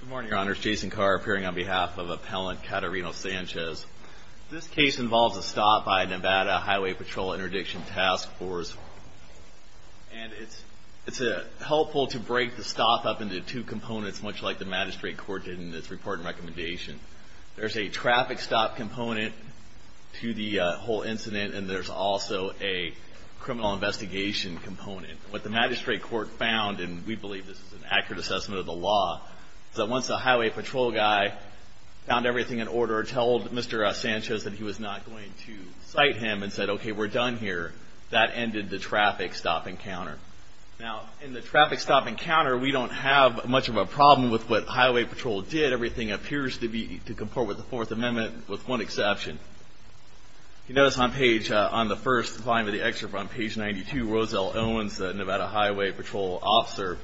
Good morning, Your Honors. Jason Carr, appearing on behalf of Appellant Catarino Sanchez. This case involves a stop by a Nevada Highway Patrol Interdiction Task Force. And it's helpful to break the stop up into two components, much like the magistrate court did in its report and recommendation. There's a traffic stop component to the whole incident, and there's also a criminal investigation component. What the magistrate court found, and we believe this is an accurate assessment of the law, is that once the highway patrol guy found everything in order, told Mr. Sanchez that he was not going to cite him, and said, okay, we're done here, that ended the traffic stop encounter. Now, in the traffic stop encounter, we don't have much of a problem with what highway patrol did. Everything appears to comport with the Fourth Amendment, with one exception. You notice on the first line of the excerpt, on page 92, Roselle Owens, the Nevada Highway Patrol officer,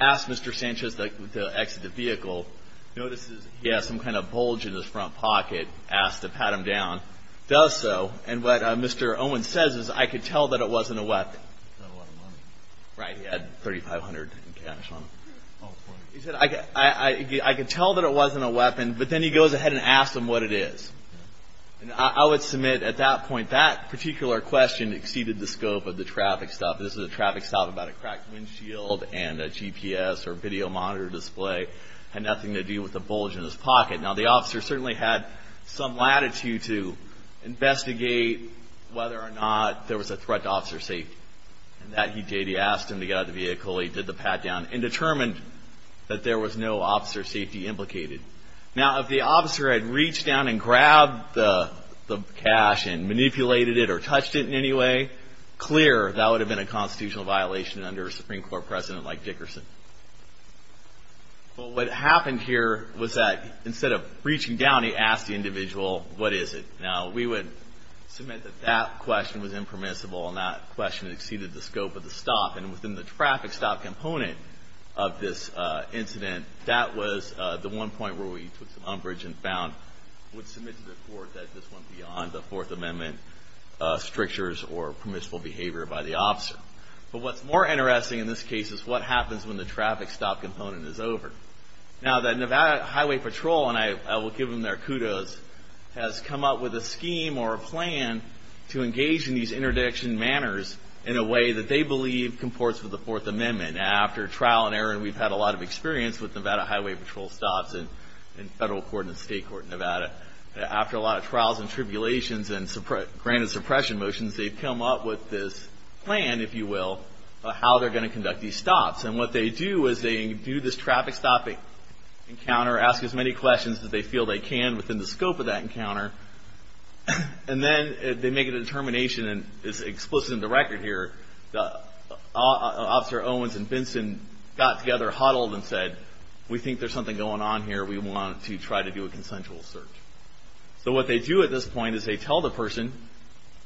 asks Mr. Sanchez to exit the vehicle. He notices he has some kind of bulge in his front pocket, asks to pat him down. He does so, and what Mr. Owens says is, I could tell that it wasn't a weapon. Right, he had $3,500 in cash on him. He said, I could tell that it wasn't a weapon, but then he goes ahead and asks him what it is. I would submit, at that point, that particular question exceeded the scope of the traffic stop. This is a traffic stop about a cracked windshield and a GPS or video monitor display. It had nothing to do with the bulge in his pocket. Now, the officer certainly had some latitude to investigate whether or not there was a threat to officer safety. And that he did. He asked him to get out of the vehicle. He did the pat down and determined that there was no officer safety implicated. Now, if the officer had reached down and grabbed the cash and manipulated it or touched it in any way, clear that would have been a constitutional violation under a Supreme Court president like Dickerson. But what happened here was that, instead of reaching down, he asked the individual, what is it? Now, we would submit that that question was impermissible, and that question exceeded the scope of the stop. And within the traffic stop component of this incident, that was the one point where we took some umbrage and found, would submit to the court that this went beyond the Fourth Amendment strictures or permissible behavior by the officer. But what's more interesting in this case is what happens when the traffic stop component is over. Now, the Nevada Highway Patrol, and I will give them their kudos, has come up with a scheme or a plan to engage in these interdiction manners in a way that they believe comports with the Fourth Amendment. After trial and error, and we've had a lot of experience with Nevada Highway Patrol stops in federal court and state court in Nevada, after a lot of trials and tribulations and granted suppression motions, they've come up with this plan, if you will, of how they're going to conduct these stops. And what they do is they do this traffic stop encounter, ask as many questions as they feel they can within the scope of that encounter, and then they make a determination, and it's explicit in the record here, Officer Owens and Benson got together, huddled and said, we think there's something going on here, we want to try to do a consensual search. So what they do at this point is they tell the person,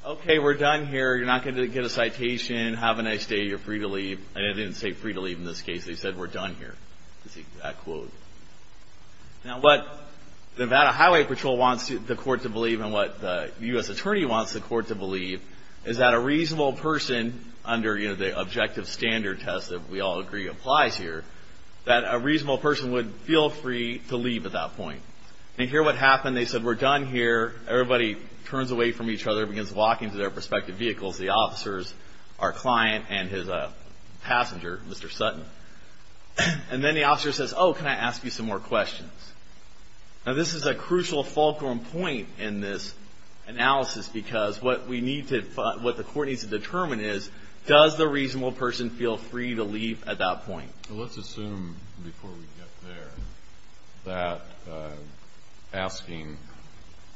okay, we're done here, you're not going to get a citation, have a nice day, you're free to leave. And they didn't say free to leave in this case, they said we're done here. Now what Nevada Highway Patrol wants the court to believe and what the U.S. Attorney wants the court to believe is that a reasonable person, under the objective standard test that we all agree applies here, that a reasonable person would feel free to leave at that point. And here's what happened, they said we're done here, everybody turns away from each other, begins walking to their respective vehicles, the officers, our client, and his passenger, Mr. Sutton. And then the officer says, oh, can I ask you some more questions? Now this is a crucial fulcrum point in this analysis because what we need to, what the court needs to determine is, does the reasonable person feel free to leave at that point? Let's assume, before we get there, that asking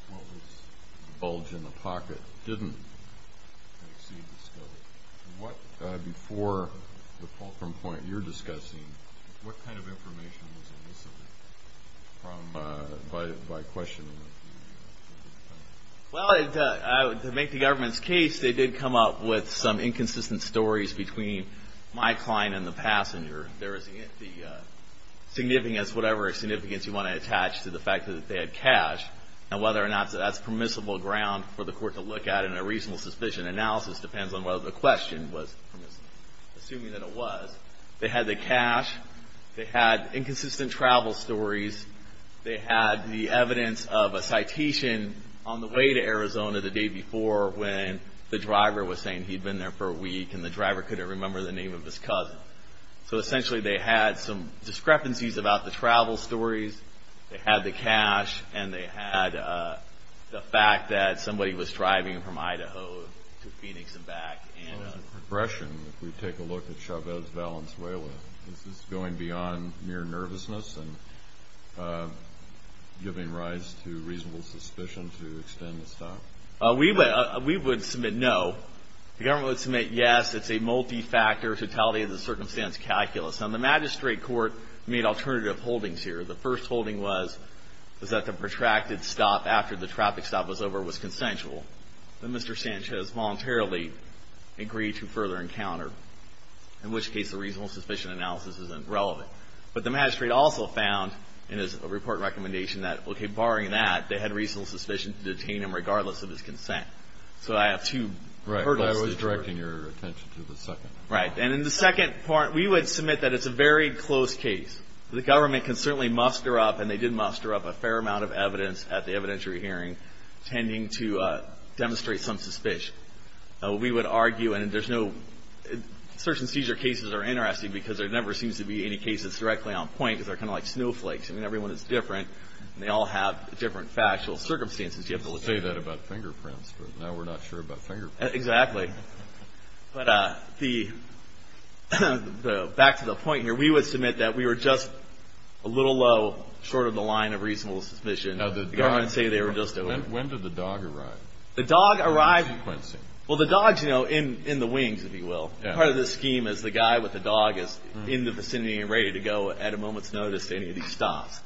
what was the bulge in the pocket didn't exceed the scope. What, before the fulcrum point you're discussing, what kind of information was elicited by questioning? Well, to make the government's case, they did come up with some inconsistent stories between my client and the passenger. There is the significance, whatever significance you want to attach to the fact that they had cash, and whether or not that's permissible ground for the court to look at in a reasonable suspicion analysis depends on whether the question was permissible. Assuming that it was, they had the cash, they had inconsistent travel stories, they had the evidence of a citation on the way to Arizona the day before when the driver was saying he'd been there for a week and the driver couldn't remember the name of his cousin. So essentially they had some discrepancies about the travel stories, they had the cash, and they had the fact that somebody was driving from Idaho to Phoenix and back. Well, as a progression, if we take a look at Chavez Valenzuela, is this going beyond mere nervousness and giving rise to reasonable suspicion to extend the stop? We would submit no. The government would submit yes. It's a multi-factor totality of the circumstance calculus. Now the magistrate court made alternative holdings here. The first holding was that the protracted stop after the traffic stop was over was consensual. Then Mr. Sanchez voluntarily agreed to further encounter, in which case the reasonable suspicion analysis isn't relevant. But the magistrate also found in his report recommendation that, okay, barring that, they had reasonable suspicion to detain him regardless of his consent. So I have two hurdles. Right, but I was directing your attention to the second. Right. And in the second part, we would submit that it's a very close case. The government can certainly muster up, and they did muster up a fair amount of evidence at the evidentiary hearing, tending to demonstrate some suspicion. We would argue, and there's no – search and seizure cases are interesting because there never seems to be any cases directly on point because they're kind of like snowflakes. I mean, everyone is different, and they all have different factual circumstances. You have to look at them. You say that about fingerprints, but now we're not sure about fingerprints. Exactly. But the – back to the point here. We would submit that we were just a little low, short of the line of reasonable suspicion. The government would say they were just over. When did the dog arrive? The dog arrived – Sequencing. Well, the dog's, you know, in the wings, if you will. Part of the scheme is the guy with the dog is in the vicinity and ready to go at a moment's notice to any of these stops.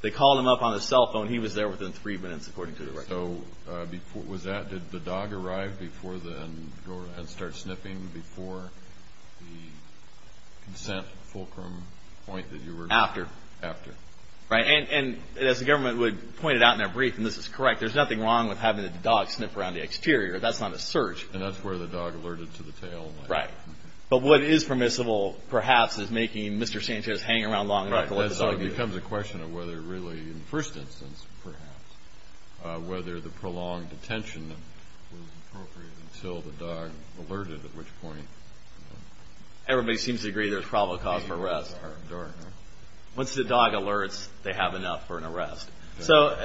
They called him up on his cell phone. He was there within three minutes, according to the record. So before – was that – did the dog arrive before the – and start sniffing before the consent fulcrum point that you were – After. After. Right. And as the government would point it out in their brief, and this is correct, there's nothing wrong with having the dog sniff around the exterior. That's not a search. And that's where the dog alerted to the tail. Right. But what is permissible, perhaps, is making Mr. Sanchez hang around long enough to let the dog do it. Right. And whether the prolonged detention was appropriate until the dog alerted, at which point. Everybody seems to agree there's probable cause for arrest. Once the dog alerts, they have enough for an arrest. So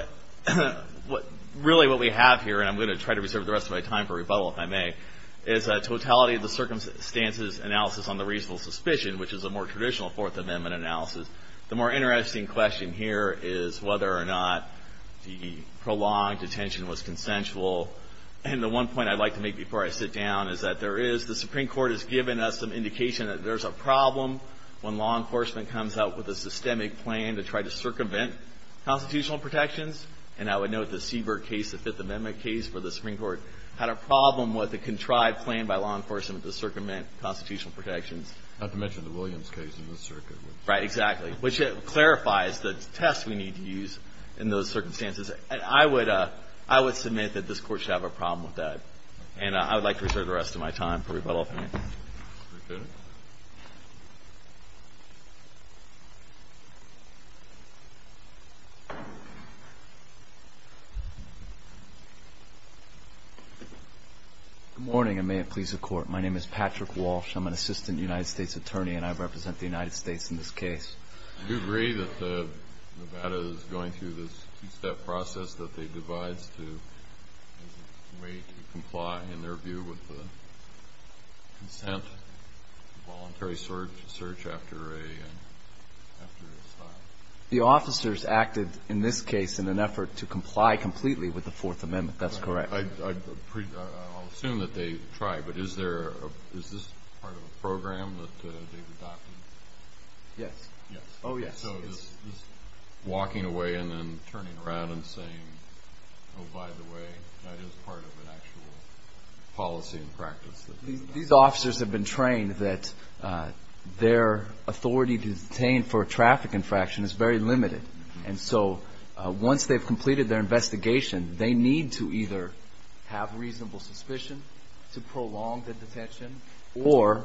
really what we have here – and I'm going to try to reserve the rest of my time for rebuttal, if I may – is a totality of the circumstances analysis on the reasonable suspicion, which is a more traditional Fourth Amendment analysis. The more interesting question here is whether or not the prolonged detention was consensual. And the one point I'd like to make before I sit down is that there is – the Supreme Court has given us some indication that there's a problem when law enforcement comes out with a systemic plan to try to circumvent constitutional protections. And I would note the Siebert case, the Fifth Amendment case, where the Supreme Court had a problem with a contrived plan by law enforcement to circumvent constitutional protections. Not to mention the Williams case in this circuit. Right, exactly. Which clarifies the test we need to use in those circumstances. And I would submit that this Court should have a problem with that. And I would like to reserve the rest of my time for rebuttal, if I may. Good morning, and may it please the Court. My name is Patrick Walsh. I'm an assistant United States attorney, and I represent the United States in this case. Do you agree that Nevada is going through this two-step process that they devised to – as a way to comply, in their view, with the consent, voluntary search after a – after a stop? The officers acted, in this case, in an effort to comply completely with the Fourth Amendment. That's correct. I'll assume that they tried, but is there – is this part of a program that they've adopted? Yes. Yes. Oh, yes. So is walking away and then turning around and saying, oh, by the way, that is part of an actual policy and practice that they've adopted? These officers have been trained that their authority to detain for a traffic infraction is very limited. And so once they've completed their investigation, they need to either have reasonable suspicion to prolong the detention or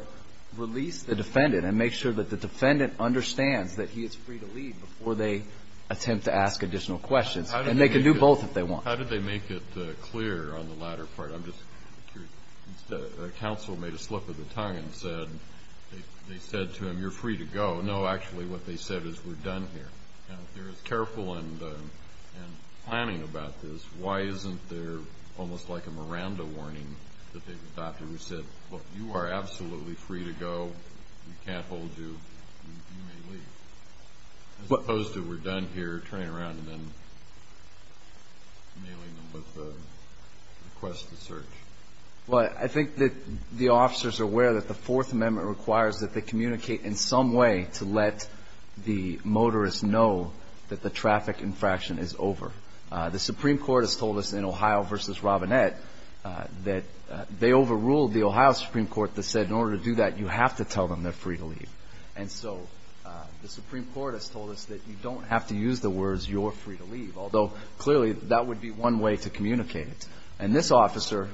release the defendant and make sure that the defendant understands that he is free to leave before they attempt to ask additional questions. And they can do both if they want. How did they make it clear on the latter part? I'm just curious. The counsel made a slip of the tongue and said – they said to him, you're free to go. No, actually, what they said is we're done here. Now, if they're as careful and planning about this, why isn't there almost like a Miranda warning that they've adopted, which said, look, you are absolutely free to go. We can't hold you. You may leave, as opposed to we're done here, turning around and then mailing them with a request to search. Well, I think that the officers are aware that the Fourth Amendment requires that they communicate in some way to let the motorist know that the traffic infraction is over. The Supreme Court has told us in Ohio v. Robinette that they overruled the Ohio Supreme Court that said in order to do that, you have to tell them they're free to leave. And so the Supreme Court has told us that you don't have to use the words, you're free to leave, although clearly that would be one way to communicate it. And this officer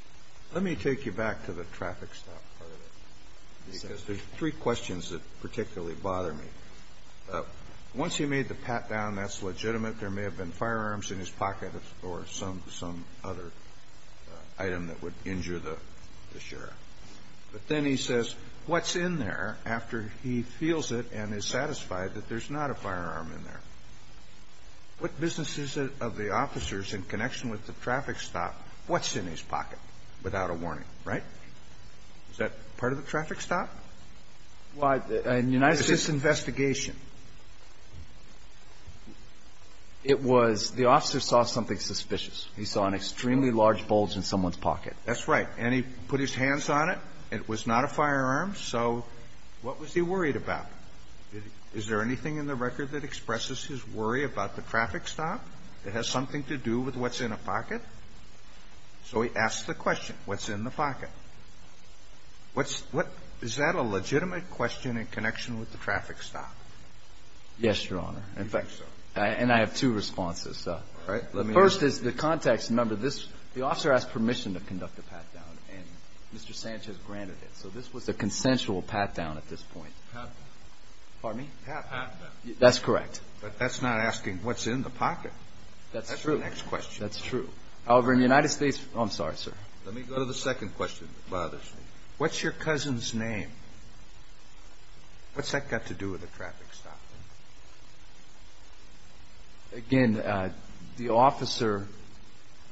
– Let me take you back to the traffic stop part of it. Because there's three questions that particularly bother me. Once he made the pat-down, that's legitimate. There may have been firearms in his pocket or some other item that would injure the sheriff. But then he says, what's in there, after he feels it and is satisfied that there's not a firearm in there? What business is it of the officers in connection with the traffic stop, what's in his pocket without a warning, right? Is that part of the traffic stop? Is this investigation? It was the officer saw something suspicious. He saw an extremely large bulge in someone's pocket. That's right. And he put his hands on it. It was not a firearm. So what was he worried about? Is there anything in the record that expresses his worry about the traffic stop that has something to do with what's in a pocket? So he asks the question, what's in the pocket? Is that a legitimate question in connection with the traffic stop? Yes, Your Honor. And I have two responses. First is the context. Remember, this the officer asked permission to conduct a pat-down, and Mr. Sanchez granted it. So this was a consensual pat-down at this point. Pardon me? Pat-down. That's correct. But that's not asking what's in the pocket. That's true. That's the next question. That's true. However, in the United States – oh, I'm sorry, sir. Let me go to the second question that bothers me. What's your cousin's name? What's that got to do with the traffic stop? Again, the officer,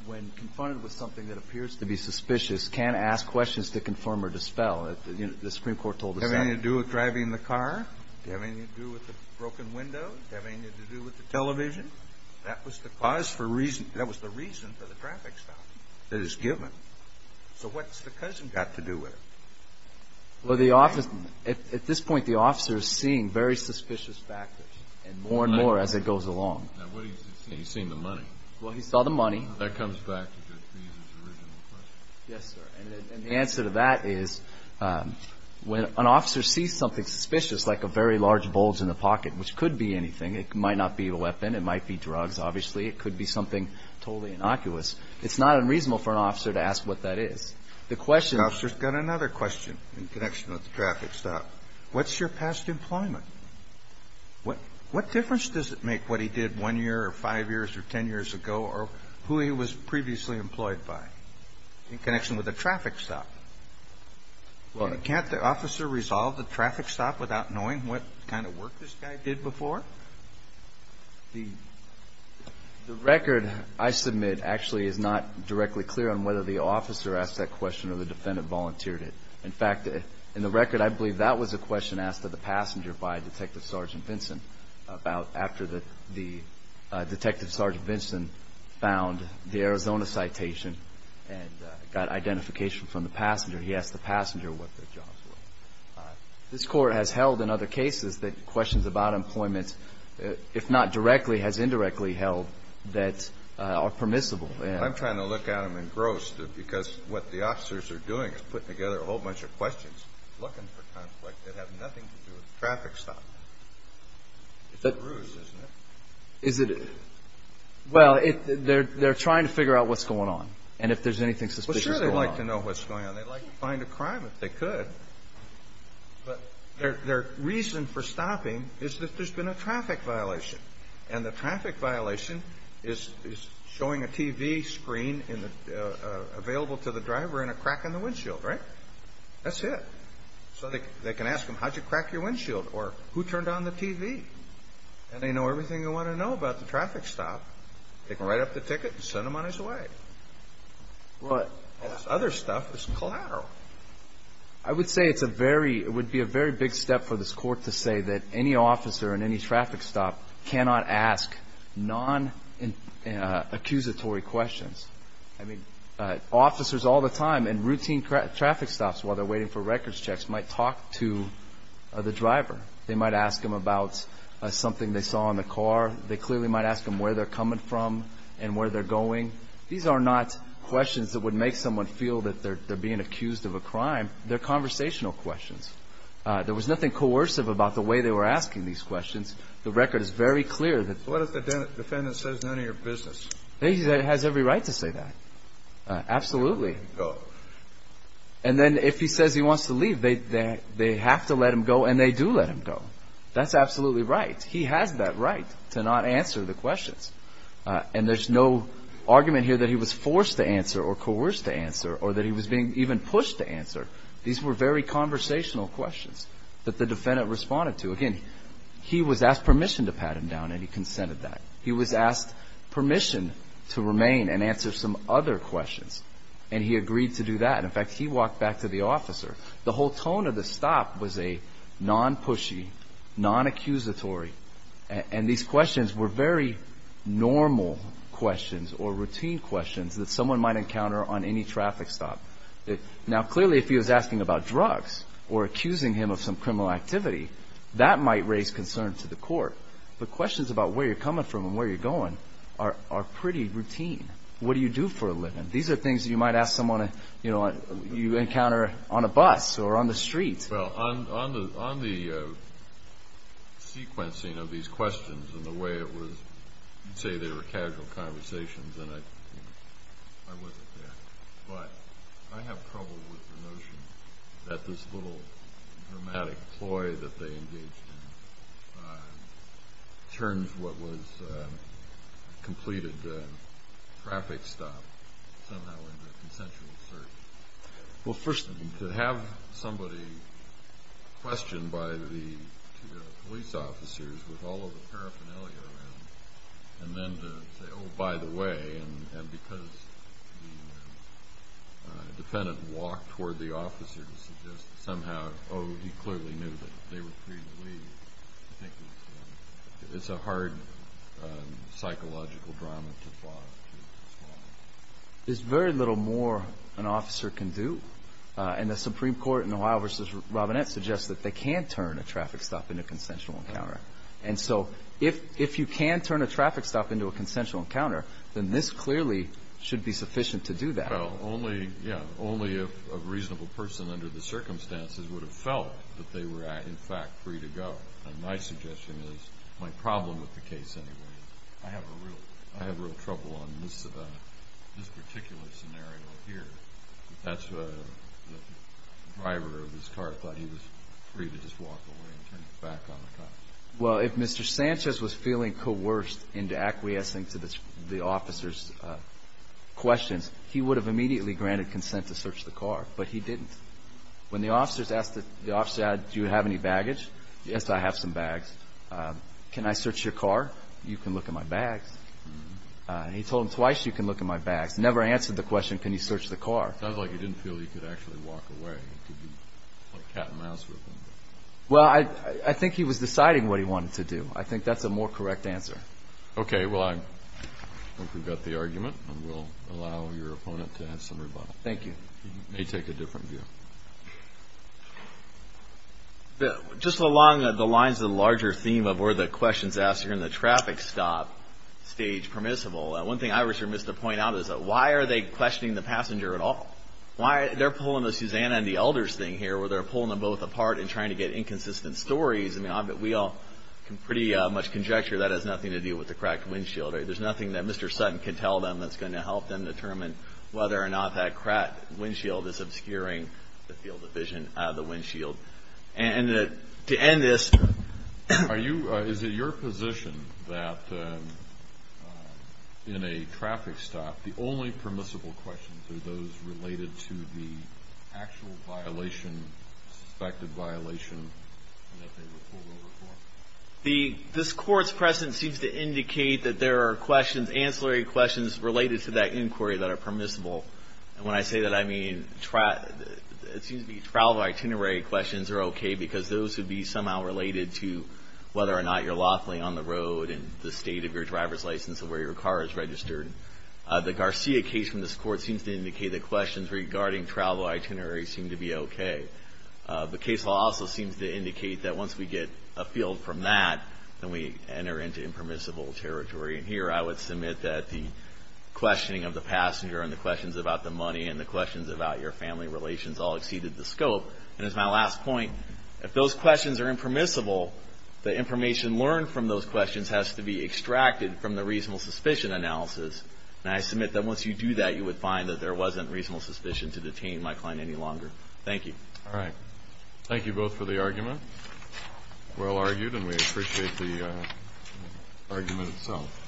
when confronted with something that appears to be suspicious, can ask questions to confirm or dispel. The Supreme Court told us that. Does it have anything to do with driving the car? Does it have anything to do with the broken window? Does it have anything to do with the television? That was the reason for the traffic stop that is given. So what's the cousin got to do with it? Well, the officer – at this point, the officer is seeing very suspicious factors more and more as it goes along. Now, what is he seeing? He's seeing the money. Well, he saw the money. That comes back to Judge Brees' original question. Yes, sir. And the answer to that is when an officer sees something suspicious, like a very large bulge in the pocket, which could be anything. It might not be a weapon. It might be drugs, obviously. It could be something totally innocuous. It's not unreasonable for an officer to ask what that is. The question – The officer's got another question in connection with the traffic stop. What's your past employment? What difference does it make what he did one year or five years or ten years ago or who he was previously employed by in connection with a traffic stop? Can't the officer resolve the traffic stop without knowing what kind of work this guy did before? The record I submit actually is not directly clear on whether the officer asked that question or the defendant volunteered it. In fact, in the record, I believe that was a question asked to the passenger by Detective Sergeant Vinson about after the Detective Sergeant Vinson found the Arizona citation and got identification from the passenger. He asked the passenger what their jobs were. This Court has held in other cases that questions about employment, if not directly, has indirectly held that are permissible. I'm trying to look at them engrossed because what the officers are doing is putting together a whole bunch of questions looking for conflict that have nothing to do with the traffic stop. It's a bruise, isn't it? Is it – well, they're trying to figure out what's going on and if there's anything suspicious going on. Well, sure they'd like to know what's going on. They'd like to find a crime if they could. But their reason for stopping is that there's been a traffic violation and the traffic violation is showing a TV screen available to the driver and a crack in the windshield, right? That's it. So they can ask him, how'd you crack your windshield? Or who turned on the TV? And they know everything they want to know about the traffic stop. They can write up the ticket and send him on his way. Well, this other stuff is collateral. I would say it's a very – it would be a very big step for this court to say that any officer in any traffic stop cannot ask non-accusatory questions. I mean, officers all the time in routine traffic stops while they're waiting for records checks might talk to the driver. They might ask him about something they saw in the car. They clearly might ask him where they're coming from and where they're going. These are not questions that would make someone feel that they're being accused of a crime. They're conversational questions. There was nothing coercive about the way they were asking these questions. The record is very clear. What if the defendant says none of your business? He has every right to say that. Absolutely. And then if he says he wants to leave, they have to let him go, and they do let him go. That's absolutely right. He has that right to not answer the questions. And there's no argument here that he was forced to answer or coerced to answer or that he was being even pushed to answer. These were very conversational questions that the defendant responded to. Again, he was asked permission to pat him down, and he consented to that. He was asked permission to remain and answer some other questions, and he agreed to do that. In fact, he walked back to the officer. The whole tone of the stop was a non-pushy, non-accusatory, and these questions were very normal questions or routine questions that someone might encounter on any traffic stop. Now, clearly, if he was asking about drugs or accusing him of some criminal activity, that might raise concern to the court, but questions about where you're coming from and where you're going are pretty routine. What do you do for a living? These are things that you might ask someone you encounter on a bus or on the street. Well, on the sequencing of these questions and the way it was, you'd say they were casual conversations, and I wasn't there. But I have trouble with the notion that this little dramatic ploy that they engaged in turns what was a completed traffic stop somehow into a consensual search. Well, first, to have somebody questioned by the police officers with all of the paraphernalia around and then to say, oh, by the way, and because the defendant walked toward the officer to suggest that somehow, oh, he clearly knew that they were free to leave, I think it's a hard psychological drama to follow. There's very little more an officer can do, and the Supreme Court in Ohio v. Robinette suggests that they can turn a traffic stop into a consensual encounter. And so if you can turn a traffic stop into a consensual encounter, then this clearly should be sufficient to do that. Well, only if a reasonable person under the circumstances would have felt that they were in fact free to go. And my suggestion is my problem with the case anyway. I have real trouble on this particular scenario here. That's the driver of his car thought he was free to just walk away and turn back on the car. Well, if Mr. Sanchez was feeling coerced into acquiescing to the officer's questions, he would have immediately granted consent to search the car, but he didn't. When the officers asked the officer, do you have any baggage? Yes, I have some bags. Can I search your car? You can look at my bags. He told him twice, you can look at my bags. Never answered the question, can you search the car. Sounds like he didn't feel he could actually walk away. He could be like cat and mouse with him. Well, I think he was deciding what he wanted to do. I think that's a more correct answer. Okay. Well, I hope we've got the argument, and we'll allow your opponent to have some rebuttal. Thank you. He may take a different view. Just along the lines of the larger theme of where the question is asked here in the traffic stop stage permissible, one thing I was remiss to point out is that why are they questioning the passenger at all? They're pulling the Susanna and the elders thing here where they're pulling them both apart and trying to get inconsistent stories. We all can pretty much conjecture that has nothing to do with the cracked windshield. There's nothing that Mr. Sutton can tell them that's going to help them determine whether or not that cracked windshield is obscuring the field of vision of the windshield. And to end this. Is it your position that in a traffic stop, the only permissible questions are those related to the actual violation, suspected violation, and that they were pulled over for? This Court's presence seems to indicate that there are questions, regulatory questions related to that inquiry that are permissible. And when I say that, I mean travel itinerary questions are okay because those would be somehow related to whether or not you're lawfully on the road and the state of your driver's license and where your car is registered. The Garcia case from this Court seems to indicate that questions regarding travel itinerary seem to be okay. The case law also seems to indicate that once we get a field from that, then we enter into impermissible territory. And here I would submit that the questioning of the passenger and the questions about the money and the questions about your family relations all exceeded the scope. And as my last point, if those questions are impermissible, the information learned from those questions has to be extracted from the reasonable suspicion analysis. And I submit that once you do that, you would find that there wasn't reasonable suspicion to detain my client any longer. Thank you. All right. Thank you both for the argument. Well argued, and we appreciate the argument itself.